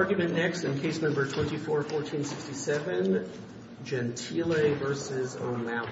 Argument next in Case No. 24-1467, Gentile v. O'Malley.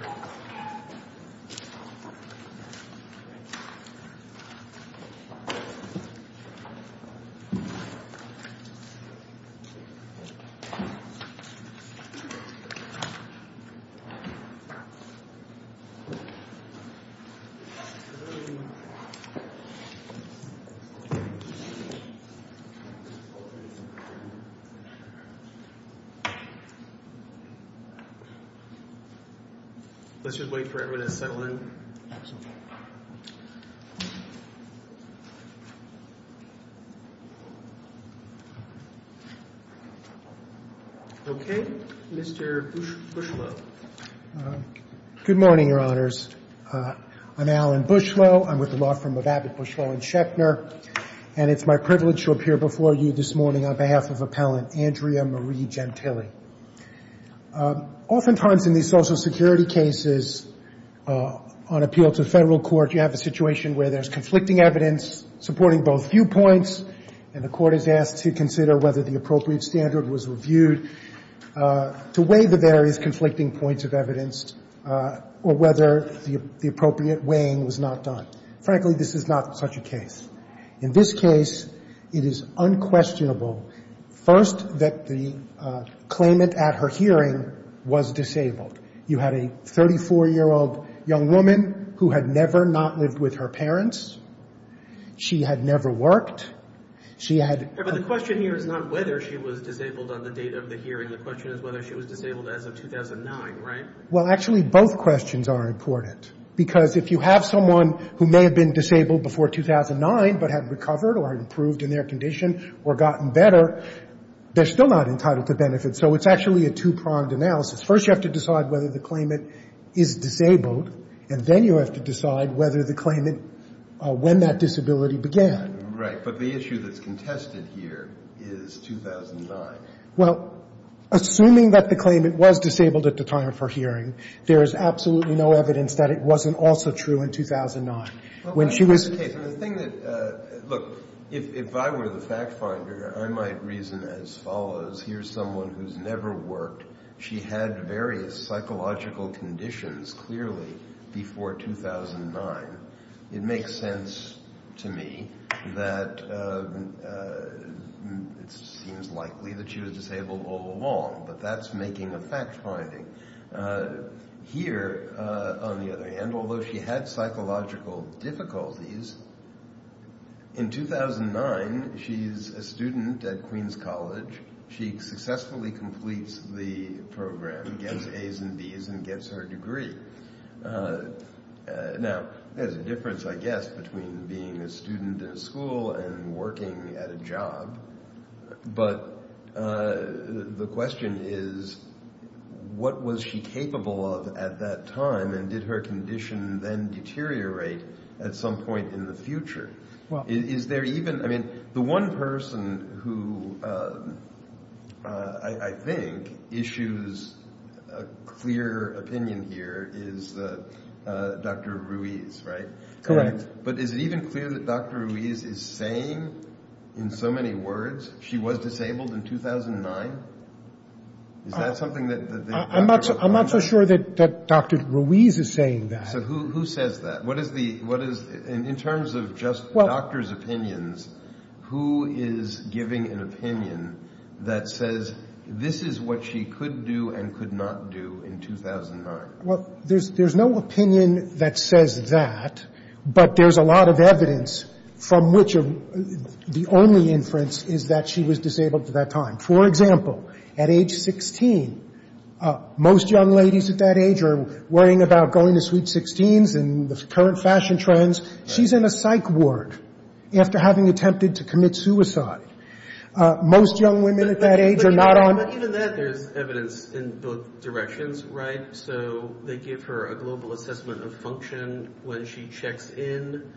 Let's just wait for everyone to settle in. Okay, Mr. Bushlow. Good morning, Your Honors. I'm Alan Bushlow. I'm with the law firm of Abbott, Bushlow & Schechner. And it's my privilege to appear before you this morning on behalf of Appellant Andrea Marie Gentile. Oftentimes in these Social Security cases, on appeal to federal court, you have a situation where there's conflicting evidence supporting both viewpoints, and the court is asked to consider whether the appropriate standard was reviewed to weigh the various conflicting points of evidence or whether the appropriate weighing was not done. Frankly, this is not such a case. In this case, it is unquestionable, first, that the claimant at her hearing was disabled. You had a 34-year-old young woman who had never not lived with her parents. She had never worked. She had... But the question here is not whether she was disabled on the date of the hearing. The question is whether she was disabled as of 2009, right? Well, actually, both questions are important. Because if you have someone who may have been disabled before 2009 but had recovered or improved in their condition or gotten better, they're still not entitled to benefit. So it's actually a two-pronged analysis. First, you have to decide whether the claimant is disabled, and then you have to decide whether the claimant, when that disability began. Right. But the issue that's contested here is 2009. Well, assuming that the claimant was disabled at the time of her hearing, there is absolutely no evidence that it wasn't also true in 2009. When she was... Okay, so the thing that... Look, if I were the fact-finder, I might reason as follows. Here's someone who's never worked. She had various psychological conditions, clearly, before 2009. It makes sense to me that it seems likely that she was disabled all along. But that's making a fact-finding. Here, on the other hand, although she had psychological difficulties, in 2009, she's a student at Queen's College. She successfully completes the program, gets As and Bs, and gets her degree. Now, there's a difference, I guess, between being a student in a school and working at a job. But the question is, what was she capable of at that time, and did her condition then deteriorate at some point in the future? Is there even... I mean, the one person who, I think, issues a clear opinion here is Dr. Ruiz, right? Correct. But is it even clear that Dr. Ruiz is saying, in so many words, she was disabled in 2009? Is that something that... I'm not so sure that Dr. Ruiz is saying that. So who says that? What is the... In terms of just doctors' opinions, who is giving an opinion that says, this is what she could do and could not do in 2009? Well, there's no opinion that says that, but there's a lot of evidence from which the only inference is that she was disabled at that time. For example, at age 16, most young ladies at that age are worrying about going to Sweet Sixteens and the current fashion trends. She's in a psych ward after having attempted to commit suicide. Most young women at that age are not on... Even that, there's evidence in both directions, right? So they give her a global assessment of function when she checks in,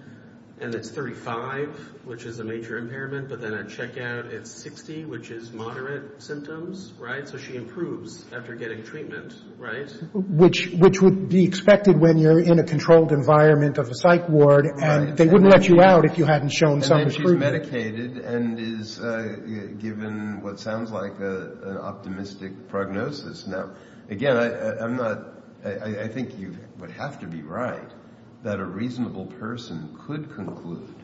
and it's 35, which is a major impairment, but then at checkout it's 60, which is moderate symptoms, right? So she improves after getting treatment, right? Which would be expected when you're in a controlled environment of a psych ward, and they wouldn't let you out if you hadn't shown some improvement. She's medicated and is given what sounds like an optimistic prognosis. Now, again, I think you would have to be right that a reasonable person could conclude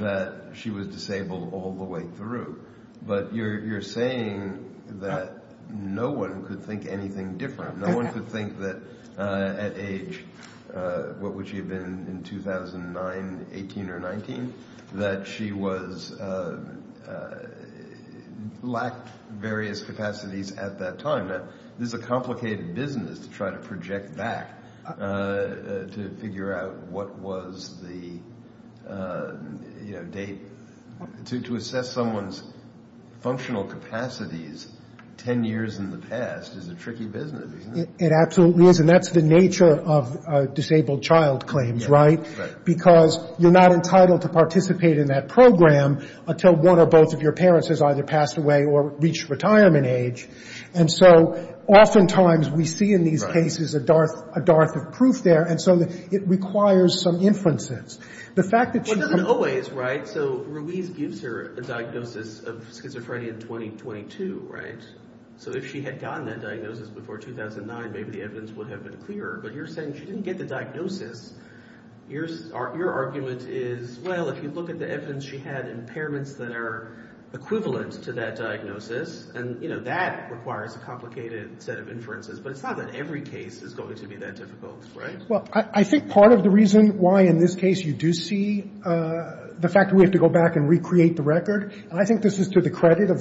that she was disabled all the way through, but you're saying that no one could think anything different. No one could think that at age, what would she have been in 2009, 18 or 19, that she lacked various capacities at that time. Now, this is a complicated business to try to project back to figure out what was the date. To assess someone's functional capacities 10 years in the past is a tricky business, isn't it? It absolutely is, and that's the nature of disabled child claims, right? Because you're not entitled to participate in that program until one or both of your parents has either passed away or reached retirement age, and so oftentimes we see in these cases a darth of proof there, and so it requires some inferences. The fact that she comes up with- Well, it doesn't always, right? So Ruiz gives her a diagnosis of schizophrenia in 2022, right? So if she had gotten that diagnosis before 2009, maybe the evidence would have been clearer, but you're saying she didn't get the diagnosis. Your argument is, well, if you look at the evidence, she had impairments that are equivalent to that diagnosis, and that requires a complicated set of inferences, but it's not that every case is going to be that difficult, right? Well, I think part of the reason why in this case you do see the fact that we have to go back and recreate the record, and I think this is to the credit of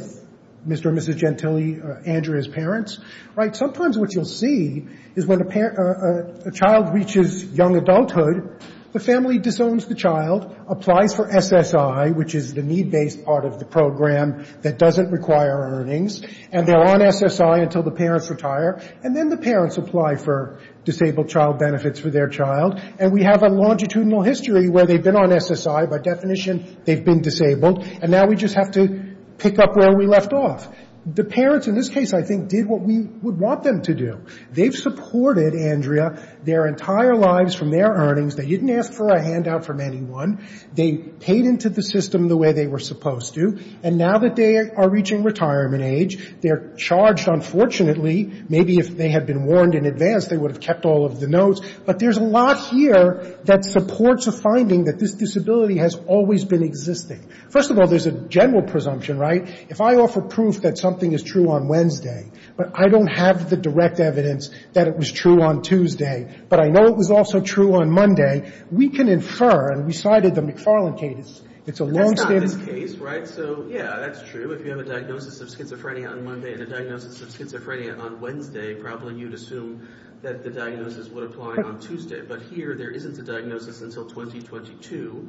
Mr. and Mrs. Gentile, Andrea's parents, right? Sometimes what you'll see is when a child reaches young adulthood, the family disowns the child, applies for SSI, which is the need-based part of the program that doesn't require earnings, and they're on SSI until the parents retire, and then the parents apply for disabled child benefits for their child, and we have a longitudinal history where they've been on SSI. By definition, they've been disabled, and now we just have to pick up where we left off. The parents in this case, I think, did what we would want them to do. They've supported Andrea their entire lives from their earnings. They didn't ask for a handout from anyone. They paid into the system the way they were supposed to, and now that they are reaching retirement age, they're charged, unfortunately, maybe if they had been warned in advance, they would have kept all of the notes, but there's a lot here that supports the finding that this disability has always been existing. First of all, there's a general presumption, right? If I offer proof that something is true on Wednesday, but I don't have the direct evidence that it was true on Tuesday, but I know it was also true on Monday, we can infer, and we cited the McFarland case. It's a longstanding case, right? So, yeah, that's true. If you have a diagnosis of schizophrenia on Monday and a diagnosis of schizophrenia on Wednesday, probably you'd assume that the diagnosis would apply on Tuesday, but here there isn't a diagnosis until 2022,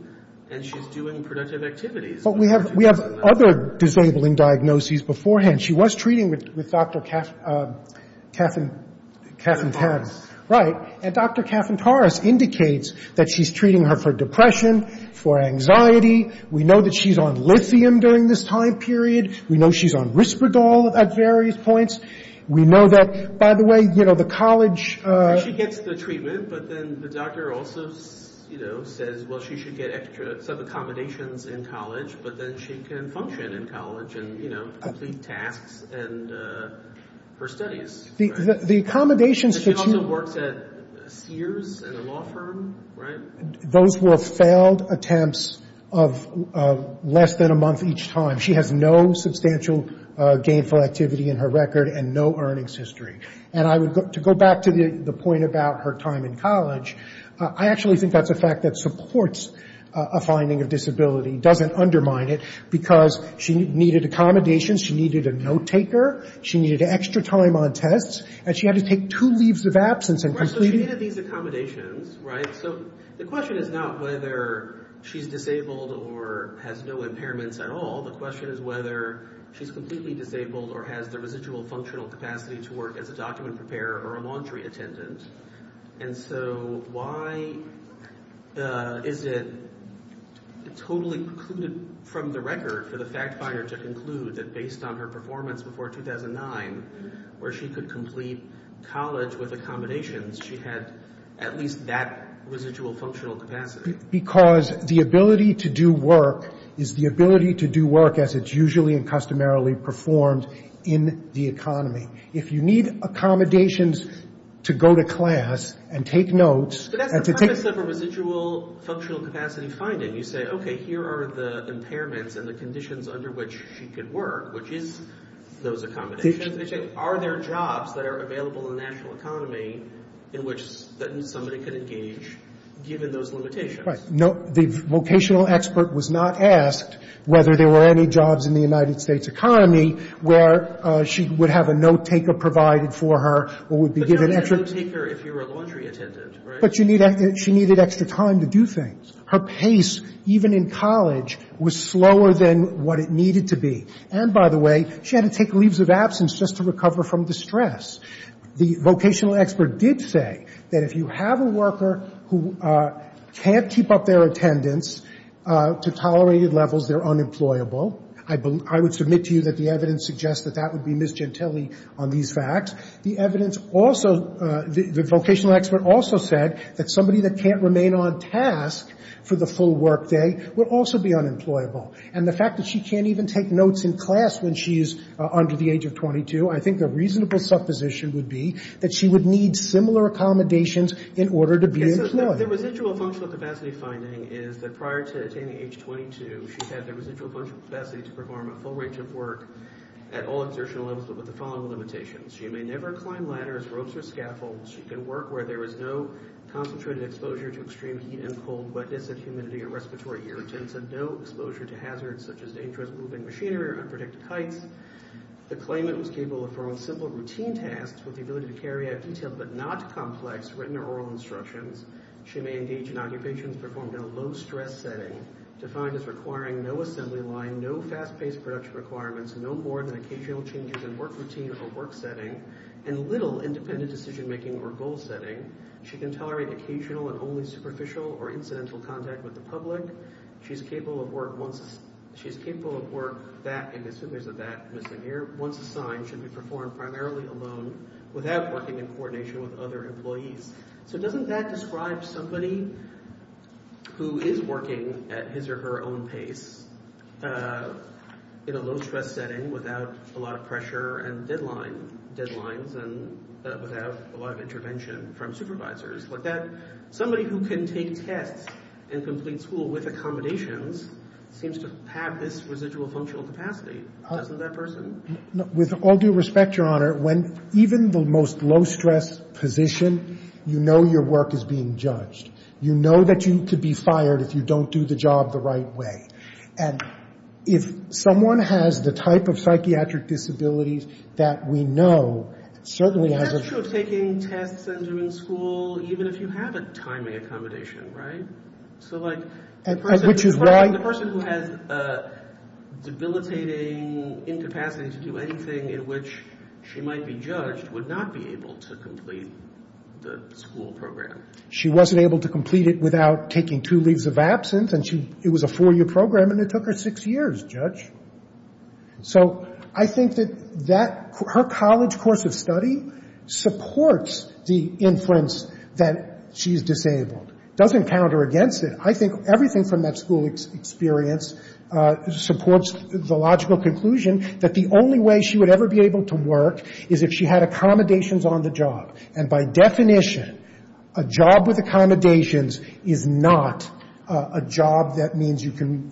and she's doing productive activities. But we have other disabling diagnoses beforehand. She was treating with Dr. Caffentaris, right? And Dr. Caffentaris indicates that she's treating her for depression, for anxiety. We know that she's on lithium during this time period. We know she's on Risperdal at various points. We know that, by the way, you know, the college... She gets the treatment, but then the doctor also, you know, says, well, she should get extra sub-accommodations in college, but then she can function in college and, you know, complete tasks and her studies. But she also works at Sears in a law firm, right? Those were failed attempts of less than a month each time. She has no substantial gainful activity in her record and no earnings history. And to go back to the point about her time in college, I actually think that's a fact that supports a finding of disability, doesn't undermine it, because she needed accommodations, she needed a note-taker, she needed extra time on tests, and she had to take two leaves of absence in completing... Right, so she needed these accommodations, right? So the question is not whether she's disabled or has no impairments at all. The question is whether she's completely disabled or has the residual functional capacity to work as a document preparer or a laundry attendant. And so why is it totally precluded from the record for the fact finder to conclude that based on her performance before 2009, where she could complete college with accommodations, she had at least that residual functional capacity? Because the ability to do work is the ability to do work as it's usually and customarily performed in the economy. If you need accommodations to go to class and take notes... But that's the premise of a residual functional capacity finding. You say, okay, here are the impairments and the conditions under which she could work, which is those accommodations. They say, are there jobs that are available in the national economy in which somebody could engage given those limitations? Right. The vocational expert was not asked whether there were any jobs in the United States economy where she would have a note taker provided for her or would be given extra... But you don't need a note taker if you're a laundry attendant, right? But she needed extra time to do things. Her pace, even in college, was slower than what it needed to be. And, by the way, she had to take leaves of absence just to recover from distress. The vocational expert did say that if you have a worker who can't keep up their attendance to tolerated levels, they're unemployable. I would submit to you that the evidence suggests that that would be Ms. Gentile on these facts. The evidence also, the vocational expert also said that somebody that can't remain on task for the full workday would also be unemployable. And the fact that she can't even take notes in class when she's under the age of 22, I think a reasonable supposition would be that she would need similar accommodations in order to be employed. Okay, so the residual functional capacity finding is that prior to attaining age 22, she had the residual functional capacity to perform a full range of work at all exertional levels but with the following limitations. She may never climb ladders, ropes, or scaffolds. She can work where there is no concentrated exposure to extreme heat and cold, wetness and humidity, or respiratory irritants, and no exposure to hazards such as dangerous moving machinery or unpredicted heights. The claimant was capable of performing simple routine tasks with the ability to carry out detailed but not complex written or oral instructions. She may engage in occupations performed in a low-stress setting defined as requiring no assembly line, no fast-paced production requirements, no more than occasional changes in work routine or work setting, and little independent decision-making or goal setting. She can tolerate occasional and only superficial or incidental contact with the public. She is capable of work that, and assume there's a that missing here, once assigned should be performed primarily alone without working in coordination with other employees. So doesn't that describe somebody who is working at his or her own pace in a low-stress setting without a lot of pressure and deadlines and without a lot of intervention from supervisors? Somebody who can take tests and complete school with accommodations seems to have this residual functional capacity. Doesn't that person? With all due respect, Your Honor, even the most low-stress position, you know your work is being judged. You know that you could be fired if you don't do the job the right way. And if someone has the type of psychiatric disabilities that we know, certainly has a- It's not true of taking tests and doing school even if you have a timing accommodation, right? So like- Which is why- She might be judged, would not be able to complete the school program. She wasn't able to complete it without taking two leaves of absence, and it was a four-year program, and it took her six years, Judge. So I think that her college course of study supports the inference that she's disabled. It doesn't counter against it. I think everything from that school experience supports the logical conclusion that the only way she would ever be able to work is if she had accommodations on the job. And by definition, a job with accommodations is not a job that means you can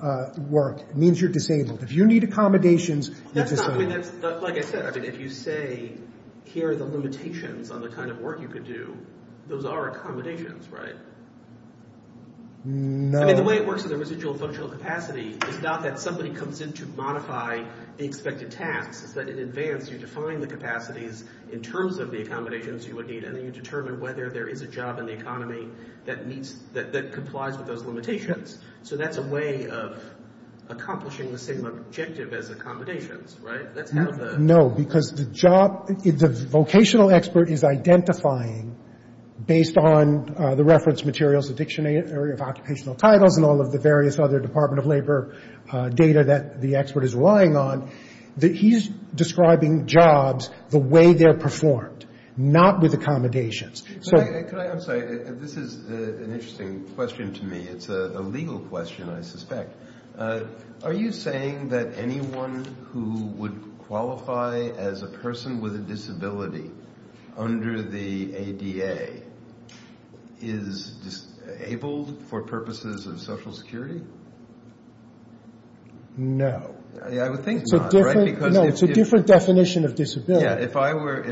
work. It means you're disabled. If you need accommodations, you're disabled. Like I said, if you say here are the limitations on the kind of work you could do, those are accommodations, right? No. I mean, the way it works in the residual functional capacity is not that somebody comes in to modify the expected tax. It's that in advance you define the capacities in terms of the accommodations you would need, and then you determine whether there is a job in the economy that complies with those limitations. So that's a way of accomplishing the same objective as accommodations, right? That's kind of the- No, because the job- The vocational expert is identifying, based on the reference materials, the dictionary of occupational titles, and all of the various other Department of Labor data that the expert is relying on, that he's describing jobs the way they're performed, not with accommodations. I'm sorry. This is an interesting question to me. It's a legal question, I suspect. Are you saying that anyone who would qualify as a person with a disability under the ADA is able for purposes of Social Security? No. I would think not, right? No, it's a different definition of disability. Yeah, if I were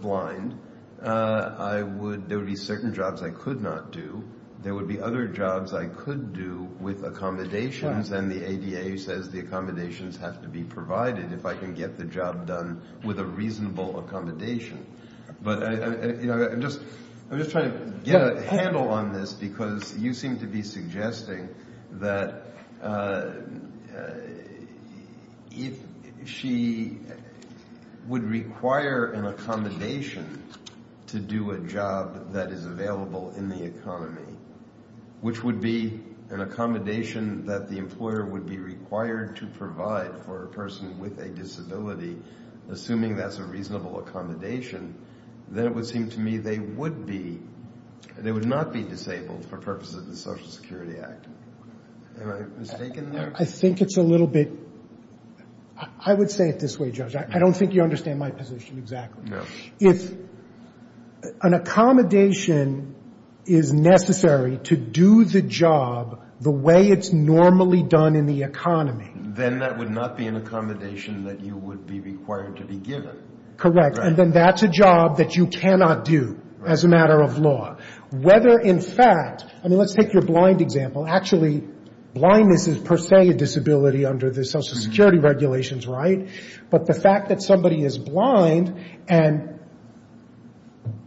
blind, there would be certain jobs I could not do. There would be other jobs I could do with accommodations, and the ADA says the accommodations have to be provided if I can get the job done with a reasonable accommodation. But I'm just trying to get a handle on this, because you seem to be suggesting that if she would require an accommodation to do a job that is available in the economy, which would be an accommodation that the employer would be required to provide for a person with a disability, assuming that's a reasonable accommodation, then it would seem to me they would not be disabled for purposes of the Social Security Act. Am I mistaken there? I think it's a little bit, I would say it this way, Judge. I don't think you understand my position exactly. No. If an accommodation is necessary to do the job the way it's normally done in the economy. Then that would not be an accommodation that you would be required to be given. Correct. And then that's a job that you cannot do as a matter of law. Whether in fact, I mean, let's take your blind example. Actually, blindness is per se a disability under the Social Security regulations, right? But the fact that somebody is blind and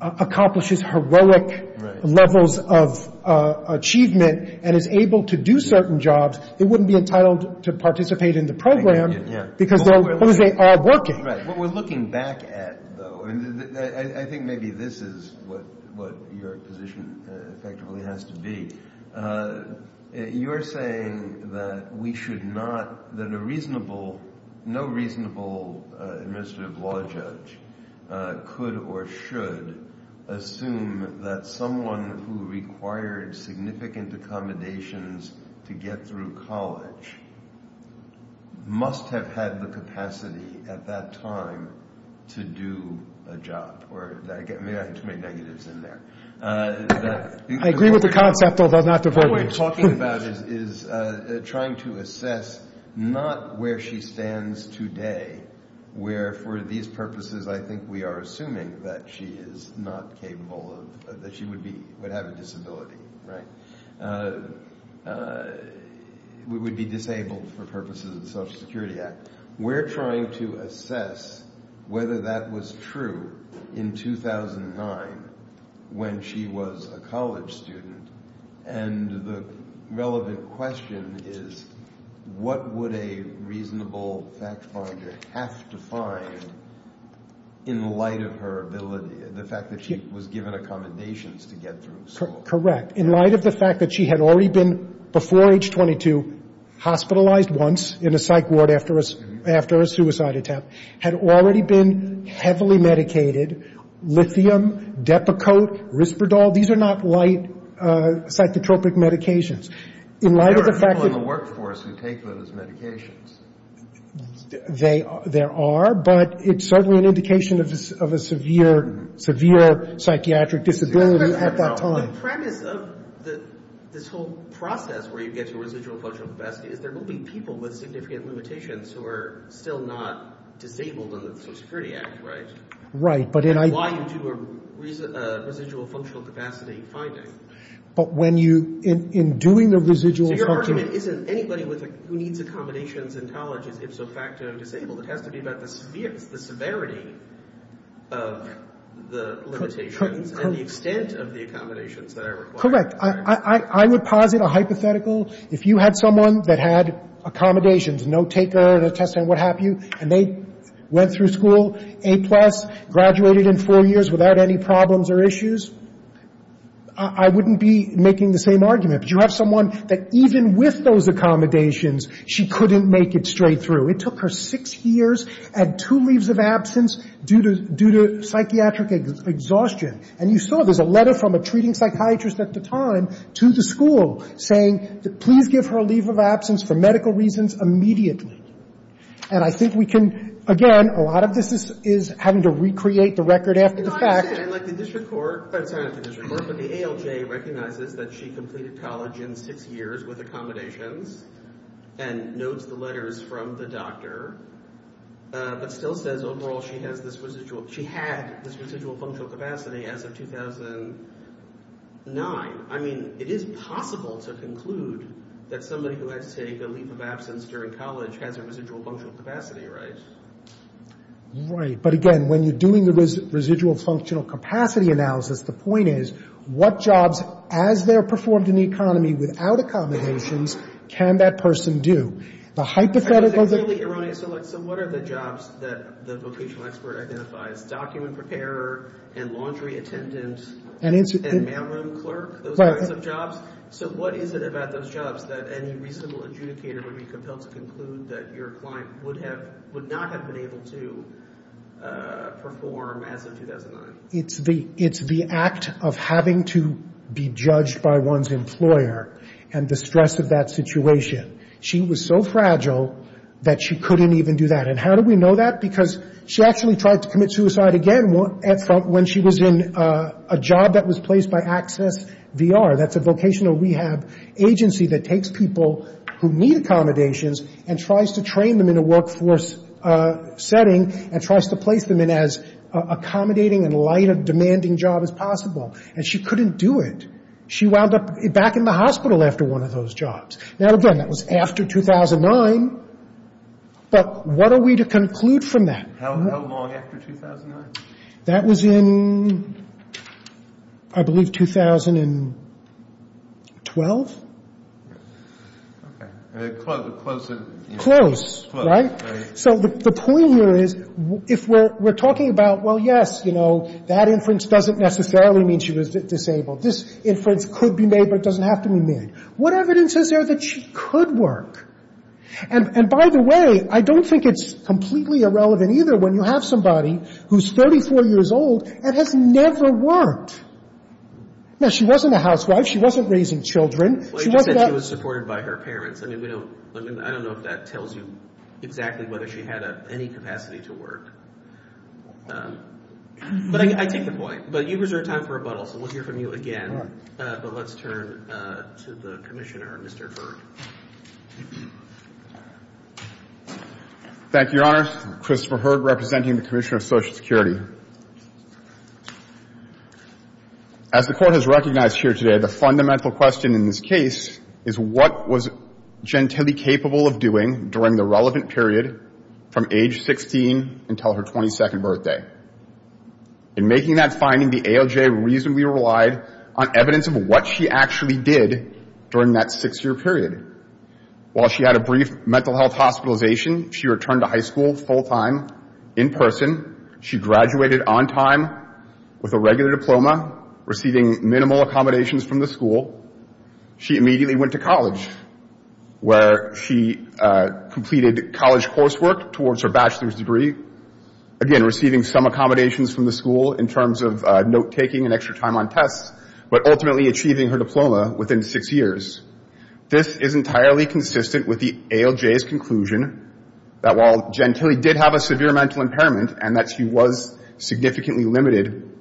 accomplishes heroic levels of achievement and is able to do certain jobs, they wouldn't be entitled to participate in the program because they are working. Right. What we're looking back at, though, and I think maybe this is what your position effectively has to be. You're saying that we should not, that a reasonable, no reasonable administrative law judge could or should assume that someone who required significant accommodations to get through college must have had the capacity at that time to do a job. Or maybe I have too many negatives in there. I agree with the concept, although not to very much. What we're talking about is trying to assess not where she stands today, where for these purposes I think we are assuming that she is not capable of, that she would have a disability, right? Would be disabled for purposes of the Social Security Act. We're trying to assess whether that was true in 2009 when she was a college student. And the relevant question is what would a reasonable fact finder have to find in light of her ability, the fact that she was given accommodations to get through school. Correct. In light of the fact that she had already been, before age 22, hospitalized once in a psych ward after a suicide attack, had already been heavily medicated, lithium, Depakote, Risperdal, these are not light psychotropic medications. There are people in the workforce who take those medications. There are, but it's certainly an indication of a severe psychiatric disability at that time. The premise of this whole process where you get to residual functional capacity is there will be people with significant limitations who are still not disabled under the Social Security Act, right? Right. And why you do a residual functional capacity finding. But when you, in doing the residual functional... So your argument isn't anybody who needs accommodations in college is ipso facto disabled. It has to be about the severity of the limitations and the extent of the accommodations that are required. Correct. I would posit a hypothetical. If you had someone that had accommodations, no taker, no test and what have you, and they went through school A+, graduated in four years without any problems or issues, I wouldn't be making the same argument. But you have someone that even with those accommodations, she couldn't make it straight through. It took her six years and two leaves of absence due to psychiatric exhaustion. And you saw there's a letter from a treating psychiatrist at the time to the school saying, please give her a leave of absence for medical reasons immediately. And I think we can, again, a lot of this is having to recreate the record after the fact. And like the district court, it's not the district court, but the ALJ recognizes that she completed college in six years with accommodations and notes the letters from the doctor but still says overall she had this residual functional capacity as of 2009. I mean, it is possible to conclude that somebody who had to take a leave of absence during college has a residual functional capacity, right? Right. But, again, when you're doing the residual functional capacity analysis, the point is what jobs as they're performed in the economy without accommodations can that person do? The hypotheticals of the... So what are the jobs that the vocational expert identifies, document preparer and laundry attendant and mailroom clerk, those kinds of jobs? So what is it about those jobs that any reasonable adjudicator would be compelled to conclude that your client would not have been able to perform as of 2009? It's the act of having to be judged by one's employer and the stress of that situation. She was so fragile that she couldn't even do that. And how do we know that? Because she actually tried to commit suicide again when she was in a job that was placed by AccessVR. That's a vocational rehab agency that takes people who need accommodations and tries to train them in a workforce setting and tries to place them in as accommodating and light of demanding job as possible. And she couldn't do it. She wound up back in the hospital after one of those jobs. Now, again, that was after 2009. But what are we to conclude from that? How long after 2009? That was in, I believe, 2012. Okay. Close. Close, right? So the point here is if we're talking about, well, yes, you know, that inference doesn't necessarily mean she was disabled. This inference could be made, but it doesn't have to be made. What evidence is there that she could work? And by the way, I don't think it's completely irrelevant either when you have somebody who's 34 years old and has never worked. Now, she wasn't a housewife. She wasn't raising children. She wasn't that – Well, you just said she was supported by her parents. I mean, we don't – I don't know if that tells you exactly whether she had any capacity to work. But I take your point. But you've reserved time for rebuttal, so we'll hear from you again. All right. But let's turn to the Commissioner, Mr. Hurd. Thank you, Your Honor. Christopher Hurd representing the Commissioner of Social Security. As the Court has recognized here today, the fundamental question in this case is what was Gentile capable of doing during the relevant period from age 16 until her 22nd birthday. In making that finding, the AOJ reasonably relied on evidence of what she actually did during that six-year period. While she had a brief mental health hospitalization, she returned to high school full-time in person. She graduated on time with a regular diploma, receiving minimal accommodations from the school. She immediately went to college where she completed college coursework towards her bachelor's degree, again, receiving some accommodations from the school in terms of note-taking and extra time on tests, but ultimately achieving her diploma within six years. This is entirely consistent with the AOJ's conclusion that while Gentile did have a severe mental impairment and that she was significantly limited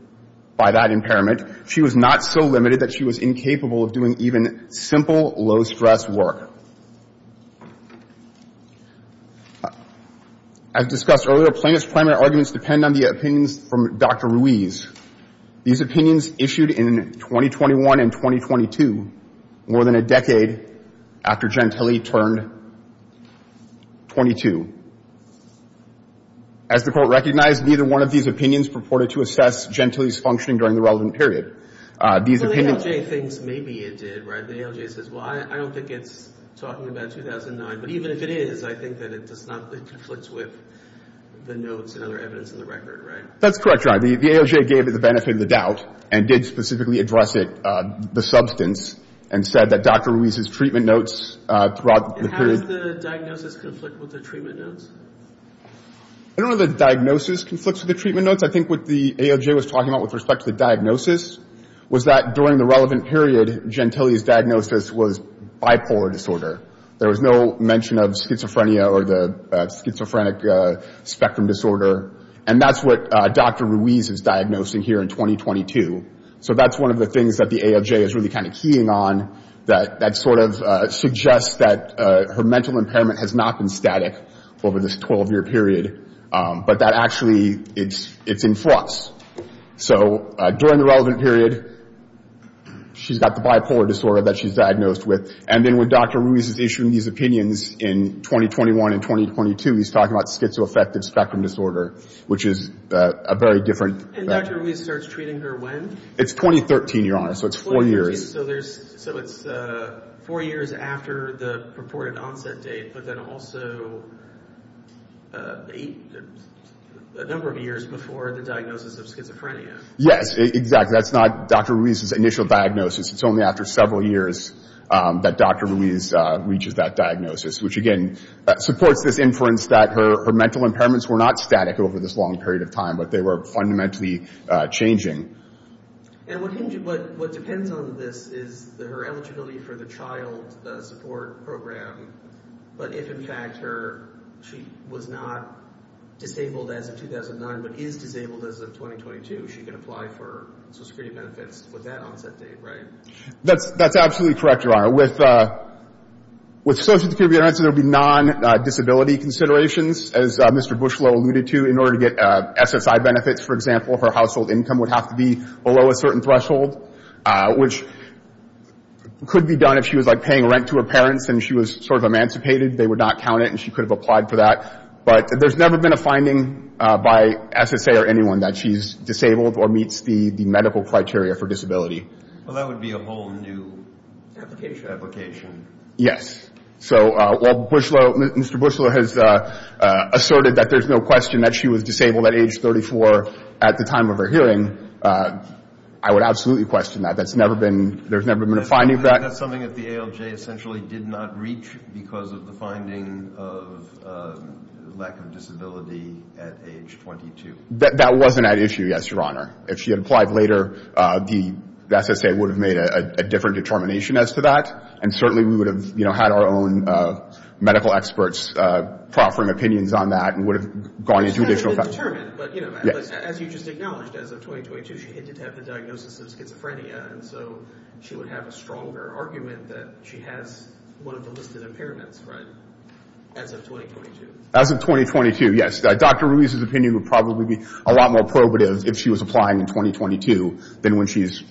by that impairment, she was not so limited that she was incapable of doing even simple, low-stress work. As discussed earlier, plaintiff's primary arguments depend on the opinions from Dr. Ruiz. These opinions issued in 2021 and 2022, more than a decade after Gentile turned 22. As the court recognized, neither one of these opinions purported to assess Gentile's functioning during the relevant period. These opinions – So the AOJ thinks maybe it did, right? The AOJ says, well, I don't think it's talking about 2009, but even if it is, I think that it does not – it conflicts with the notes and other evidence in the record, right? That's correct, John. The AOJ gave it the benefit of the doubt and did specifically address it, the substance, and said that Dr. Ruiz's treatment notes throughout the period – And how does the diagnosis conflict with the treatment notes? I don't know if the diagnosis conflicts with the treatment notes. I think what the AOJ was talking about with respect to the diagnosis was that during the relevant period, Gentile's diagnosis was bipolar disorder. There was no mention of schizophrenia or the schizophrenic spectrum disorder, and that's what Dr. Ruiz is diagnosing here in 2022. So that's one of the things that the AOJ is really kind of keying on, that sort of suggests that her mental impairment has not been static over this 12-year period, but that actually – it's in flux. So during the relevant period, she's got the bipolar disorder that she's diagnosed with, and then when Dr. Ruiz is issuing these opinions in 2021 and 2022, he's talking about schizoaffective spectrum disorder, which is a very different – And Dr. Ruiz starts treating her when? It's 2013, Your Honor, so it's four years. So it's four years after the purported onset date, but then also a number of years before the diagnosis of schizophrenia. Yes, exactly. That's not Dr. Ruiz's initial diagnosis. It's only after several years that Dr. Ruiz reaches that diagnosis, which, again, supports this inference that her mental impairments were not static over this long period of time, but they were fundamentally changing. And what depends on this is her eligibility for the child support program, but if, in fact, she was not disabled as of 2009 but is disabled as of 2022, she can apply for Social Security benefits with that onset date, right? That's absolutely correct, Your Honor. With Social Security benefits, there would be non-disability considerations, as Mr. Bushlow alluded to. In order to get SSI benefits, for example, her household income would have to be below a certain threshold, which could be done if she was, like, paying rent to her parents and she was sort of emancipated. They would not count it, and she could have applied for that. But there's never been a finding by SSA or anyone that she's disabled or meets the medical criteria for disability. Well, that would be a whole new application. Yes. So while Mr. Bushlow has asserted that there's no question that she was disabled at age 34 at the time of her hearing, I would absolutely question that. There's never been a finding of that. That's something that the ALJ essentially did not reach because of the finding of lack of disability at age 22. That wasn't at issue, yes, Your Honor. If she had applied later, the SSA would have made a different determination as to that, and certainly we would have, you know, had our own medical experts proffering opinions on that and would have gone into additional questions. But, you know, as you just acknowledged, as of 2022, she did have the diagnosis of schizophrenia, and so she would have a stronger argument that she has one of the listed impairments, right, as of 2022? As of 2022, yes. Dr. Ruiz's opinion would probably be a lot more probative if she was applying in 2022 than when she's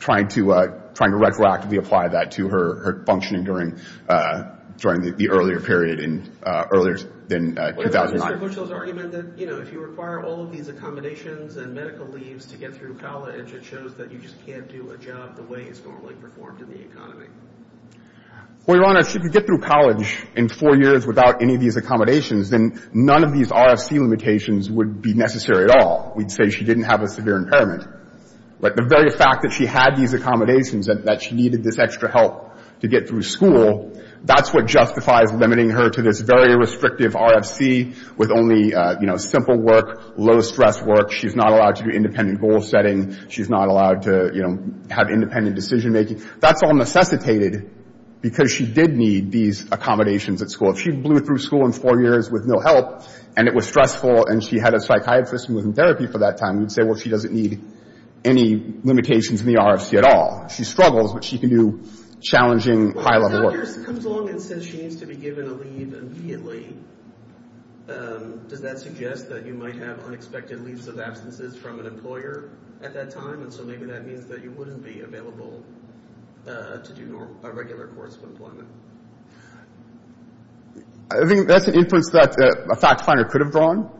trying to retroactively apply that to her functioning during the earlier period in 2009. What about Mr. Bushlow's argument that, you know, if you require all of these accommodations and medical leaves to get through college, it shows that you just can't do a job the way it's normally performed in the economy? Well, Your Honor, if she could get through college in four years without any of these accommodations, then none of these RFC limitations would be necessary at all. We'd say she didn't have a severe impairment. But the very fact that she had these accommodations, that she needed this extra help to get through school, that's what justifies limiting her to this very restrictive RFC with only, you know, simple work, low-stress work. She's not allowed to do independent goal-setting. She's not allowed to, you know, have independent decision-making. That's all necessitated because she did need these accommodations at school. If she blew through school in four years with no help and it was stressful and she had a psychiatrist who was in therapy for that time, we'd say, well, she doesn't need any limitations in the RFC at all. She struggles, but she can do challenging, high-level work. Well, if a doctor comes along and says she needs to be given a leave immediately, does that suggest that you might have unexpected leaves of absences from an employer at that time? And so maybe that means that you wouldn't be available to do a regular course of employment. I think that's an inference that a fact finder could have drawn.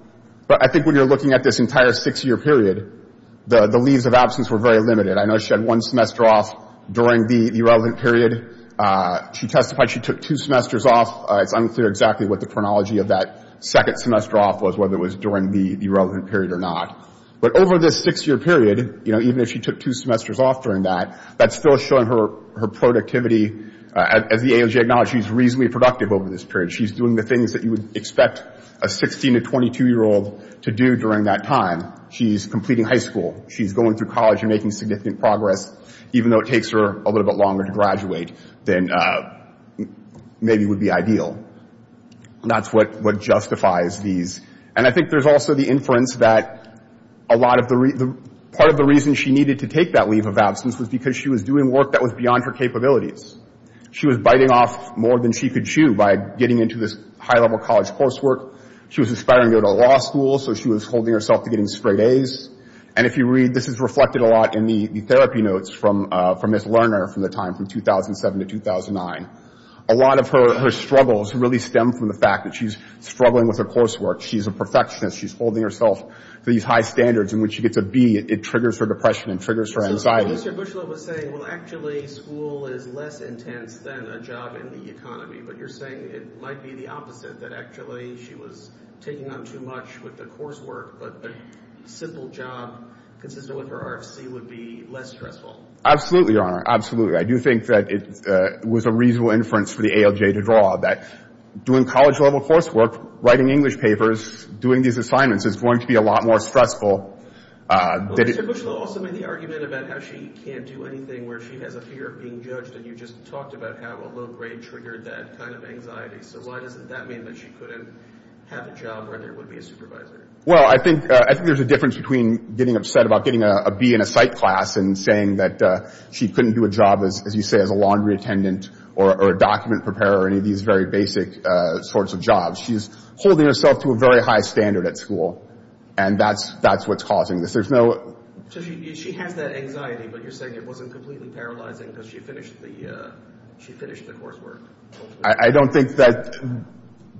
But I think when you're looking at this entire six-year period, the leaves of absence were very limited. I know she had one semester off during the relevant period. She testified she took two semesters off. It's unclear exactly what the chronology of that second semester off was, whether it was during the relevant period or not. But over this six-year period, even if she took two semesters off during that, that's still showing her productivity. As the AOJ acknowledged, she's reasonably productive over this period. She's doing the things that you would expect a 16- to 22-year-old to do during that time. She's completing high school. She's going through college and making significant progress, even though it takes her a little bit longer to graduate than maybe would be ideal. And that's what justifies these. And I think there's also the inference that part of the reason she needed to take that leave of absence was because she was doing work that was beyond her capabilities. She was biting off more than she could chew by getting into this high-level college coursework. She was aspiring to go to law school, so she was holding herself to getting straight A's. And if you read, this is reflected a lot in the therapy notes from this learner from the time, from 2007 to 2009. A lot of her struggles really stem from the fact that she's struggling with her coursework. She's a perfectionist. She's holding herself to these high standards. And when she gets a B, it triggers her depression. It triggers her anxiety. So Mr. Boushelot was saying, well, actually, school is less intense than a job in the economy. But you're saying it might be the opposite, that actually she was taking on too much with the coursework, but a simple job consistent with her RFC would be less stressful. Absolutely, Your Honor. Absolutely. I do think that it was a reasonable inference for the AOJ to draw, that doing college-level coursework, writing English papers, doing these assignments, is going to be a lot more stressful. Well, Mr. Boushelot also made the argument about how she can't do anything, where she has a fear of being judged, and you just talked about how a low grade triggered that kind of anxiety. So why does that mean that she couldn't have a job where there would be a supervisor? Well, I think there's a difference between getting upset about getting a B in a psych class and saying that she couldn't do a job, as you say, as a laundry attendant or a document preparer or any of these very basic sorts of jobs. She's holding herself to a very high standard at school, and that's what's causing this. There's no... So she has that anxiety, but you're saying it wasn't completely paralyzing because she finished the coursework. I don't think that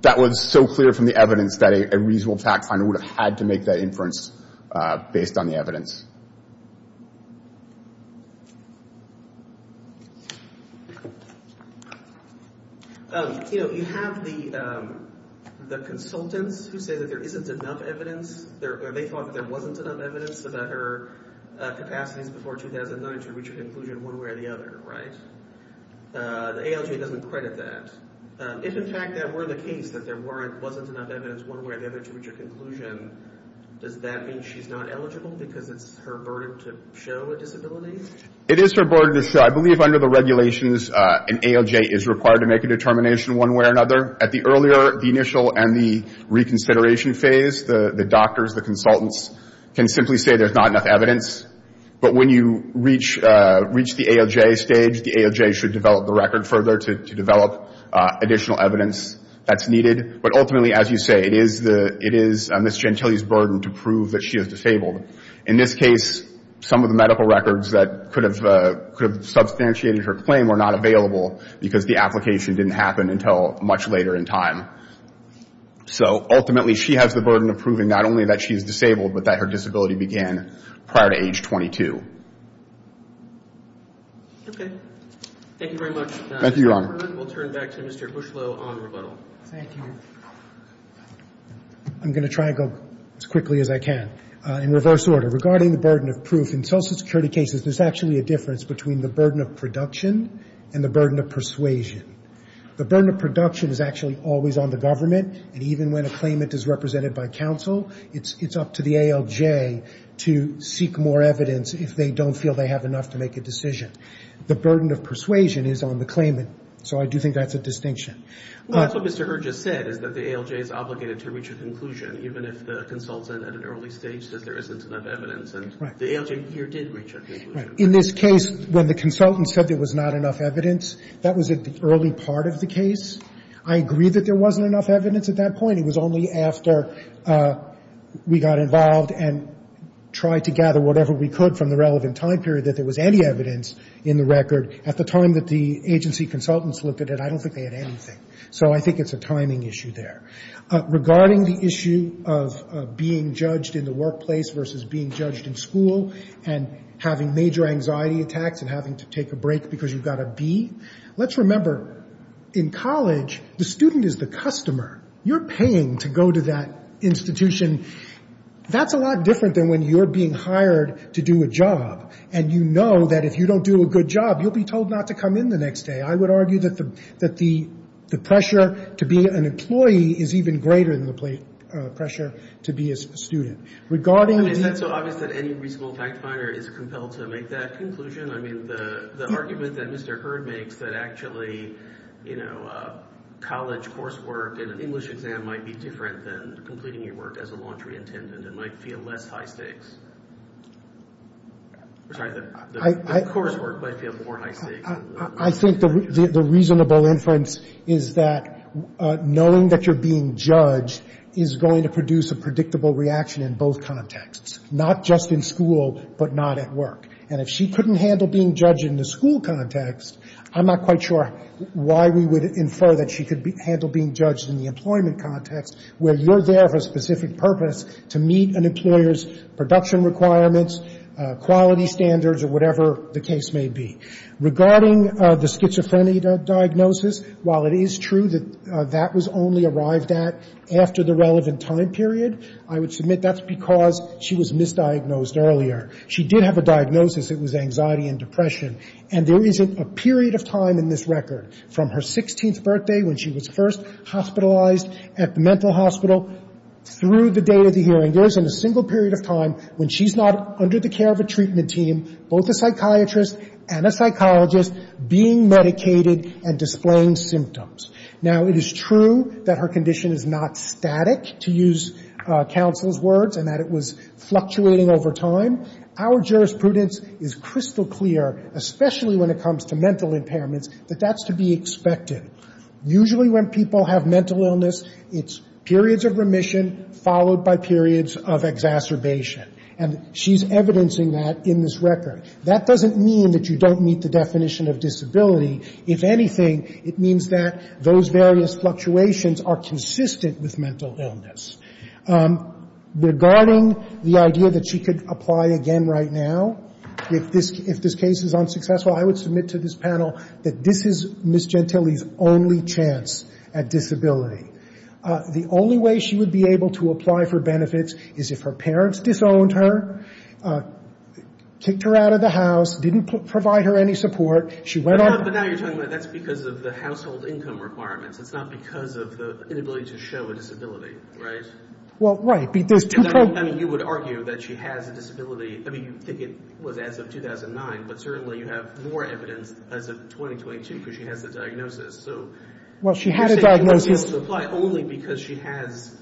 that was so clear from the evidence that a reasonable fact finder would have had to make that inference based on the evidence. You know, you have the consultants who say that there isn't enough evidence. They thought that there wasn't enough evidence about her capacities before 2009 to reach a conclusion one way or the other, right? The ALJ doesn't credit that. If, in fact, that were the case, that there wasn't enough evidence one way or the other to reach a conclusion, does that mean she's not eligible because it's her burden to show a disability? It is her burden to show. I believe under the regulations an ALJ is required to make a determination one way or another. At the earlier, the initial, and the reconsideration phase, the doctors, the consultants can simply say there's not enough evidence. But when you reach the ALJ stage, the ALJ should develop the record further to develop additional evidence that's needed. But ultimately, as you say, it is Ms. Gentile's burden to prove that she is disabled. In this case, some of the medical records that could have substantiated her claim were not available because the application didn't happen until much later in time. So ultimately she has the burden of proving not only that she is disabled but that her disability began prior to age 22. Okay. Thank you very much. Thank you, Your Honor. We'll turn back to Mr. Bushlow on rebuttal. Thank you. I'm going to try to go as quickly as I can. In reverse order, regarding the burden of proof, in Social Security cases there's actually a difference between the burden of production and the burden of persuasion. The burden of production is actually always on the government, and even when a claimant is represented by counsel, it's up to the ALJ to seek more evidence if they don't feel they have enough to make a decision. The burden of persuasion is on the claimant, so I do think that's a distinction. What Mr. Heard just said is that the ALJ is obligated to reach a conclusion, even if the consultant at an early stage says there isn't enough evidence, and the ALJ here did reach a conclusion. In this case, when the consultant said there was not enough evidence, that was an early part of the case. I agree that there wasn't enough evidence at that point. It was only after we got involved and tried to gather whatever we could from the relevant time period that there was any evidence in the record. At the time that the agency consultants looked at it, I don't think they had anything. So I think it's a timing issue there. Regarding the issue of being judged in the workplace versus being judged in school and having major anxiety attacks and having to take a break because you've got a B, let's remember, in college, the student is the customer. You're paying to go to that institution. That's a lot different than when you're being hired to do a job, and you know that if you don't do a good job, you'll be told not to come in the next day. I would argue that the pressure to be an employee is even greater than the pressure to be a student. Is that so obvious that any reasonable fact finder is compelled to make that conclusion? I mean, the argument that Mr. Hurd makes that actually college coursework and an English exam might be different than completing your work as a laundry attendant and might feel less high stakes. Sorry, the coursework might feel more high stakes. I think the reasonable inference is that knowing that you're being judged is going to produce a predictable reaction in both contexts, not just in school but not at work. And if she couldn't handle being judged in the school context, I'm not quite sure why we would infer that she could handle being judged in the employment context where you're there for a specific purpose to meet an employer's production requirements, quality standards or whatever the case may be. Regarding the schizophrenia diagnosis, while it is true that that was only arrived at after the relevant time period, I would submit that's because she was misdiagnosed earlier. She did have a diagnosis. It was anxiety and depression. And there isn't a period of time in this record from her 16th birthday when she was first hospitalized at the mental hospital through the day of the hearing. There isn't a single period of time when she's not under the care of a treatment team, both a psychiatrist and a psychologist, being medicated and displaying symptoms. Now, it is true that her condition is not static, to use counsel's words, and that it was fluctuating over time. Our jurisprudence is crystal clear, especially when it comes to mental impairments, that that's to be expected. Usually when people have mental illness, it's periods of remission followed by periods of exacerbation. And she's evidencing that in this record. That doesn't mean that you don't meet the definition of disability. If anything, it means that those various fluctuations are consistent with mental illness. Regarding the idea that she could apply again right now if this case is unsuccessful, I would submit to this panel that this is Ms. Gentile's only chance at disability. The only way she would be able to apply for benefits is if her parents disowned her, kicked her out of the house, didn't provide her any support. She went on to- But now you're telling me that's because of the household income requirements. It's not because of the inability to show a disability, right? Well, right. I mean, you would argue that she has a disability. I mean, you think it was as of 2009, but certainly you have more evidence as of 2022, because she has the diagnosis. So- Well, she had a diagnosis- You're saying she wasn't able to apply only because she has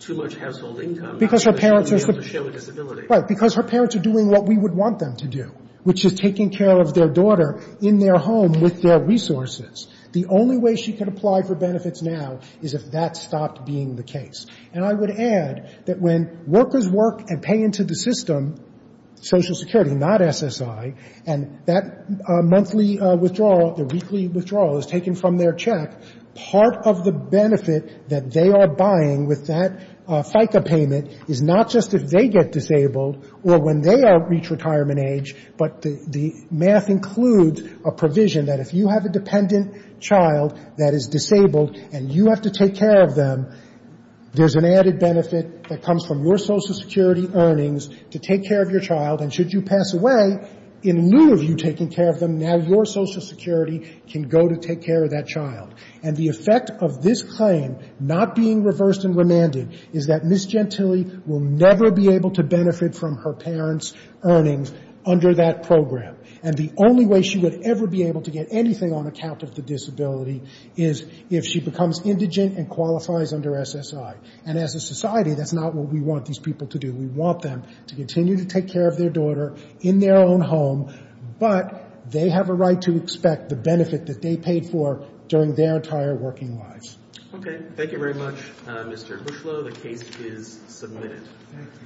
too much household income, not because she wasn't able to show a disability. Right, because her parents are doing what we would want them to do, which is taking care of their daughter in their home with their resources. The only way she could apply for benefits now is if that stopped being the case. And I would add that when workers work and pay into the system, Social Security, not SSI, and that monthly withdrawal, the weekly withdrawal is taken from their check, part of the benefit that they are buying with that FICA payment is not just if they get disabled or when they reach retirement age, but the math includes a provision that if you have a dependent child that is disabled and you have to take care of them, there's an added benefit that comes from your Social Security earnings to take care of your child, and should you pass away, in lieu of you taking care of them, now your Social Security can go to take care of that child. And the effect of this claim not being reversed and remanded is that Miss Gentile will never be able to benefit from her parents' earnings under that program. And the only way she would ever be able to get anything on account of the disability is if she becomes indigent and qualifies under SSI. And as a society, that's not what we want these people to do. We want them to continue to take care of their daughter in their own home, but they have a right to expect the benefit that they paid for during their entire working lives. Okay. Thank you very much, Mr. Bushlow. The case is submitted.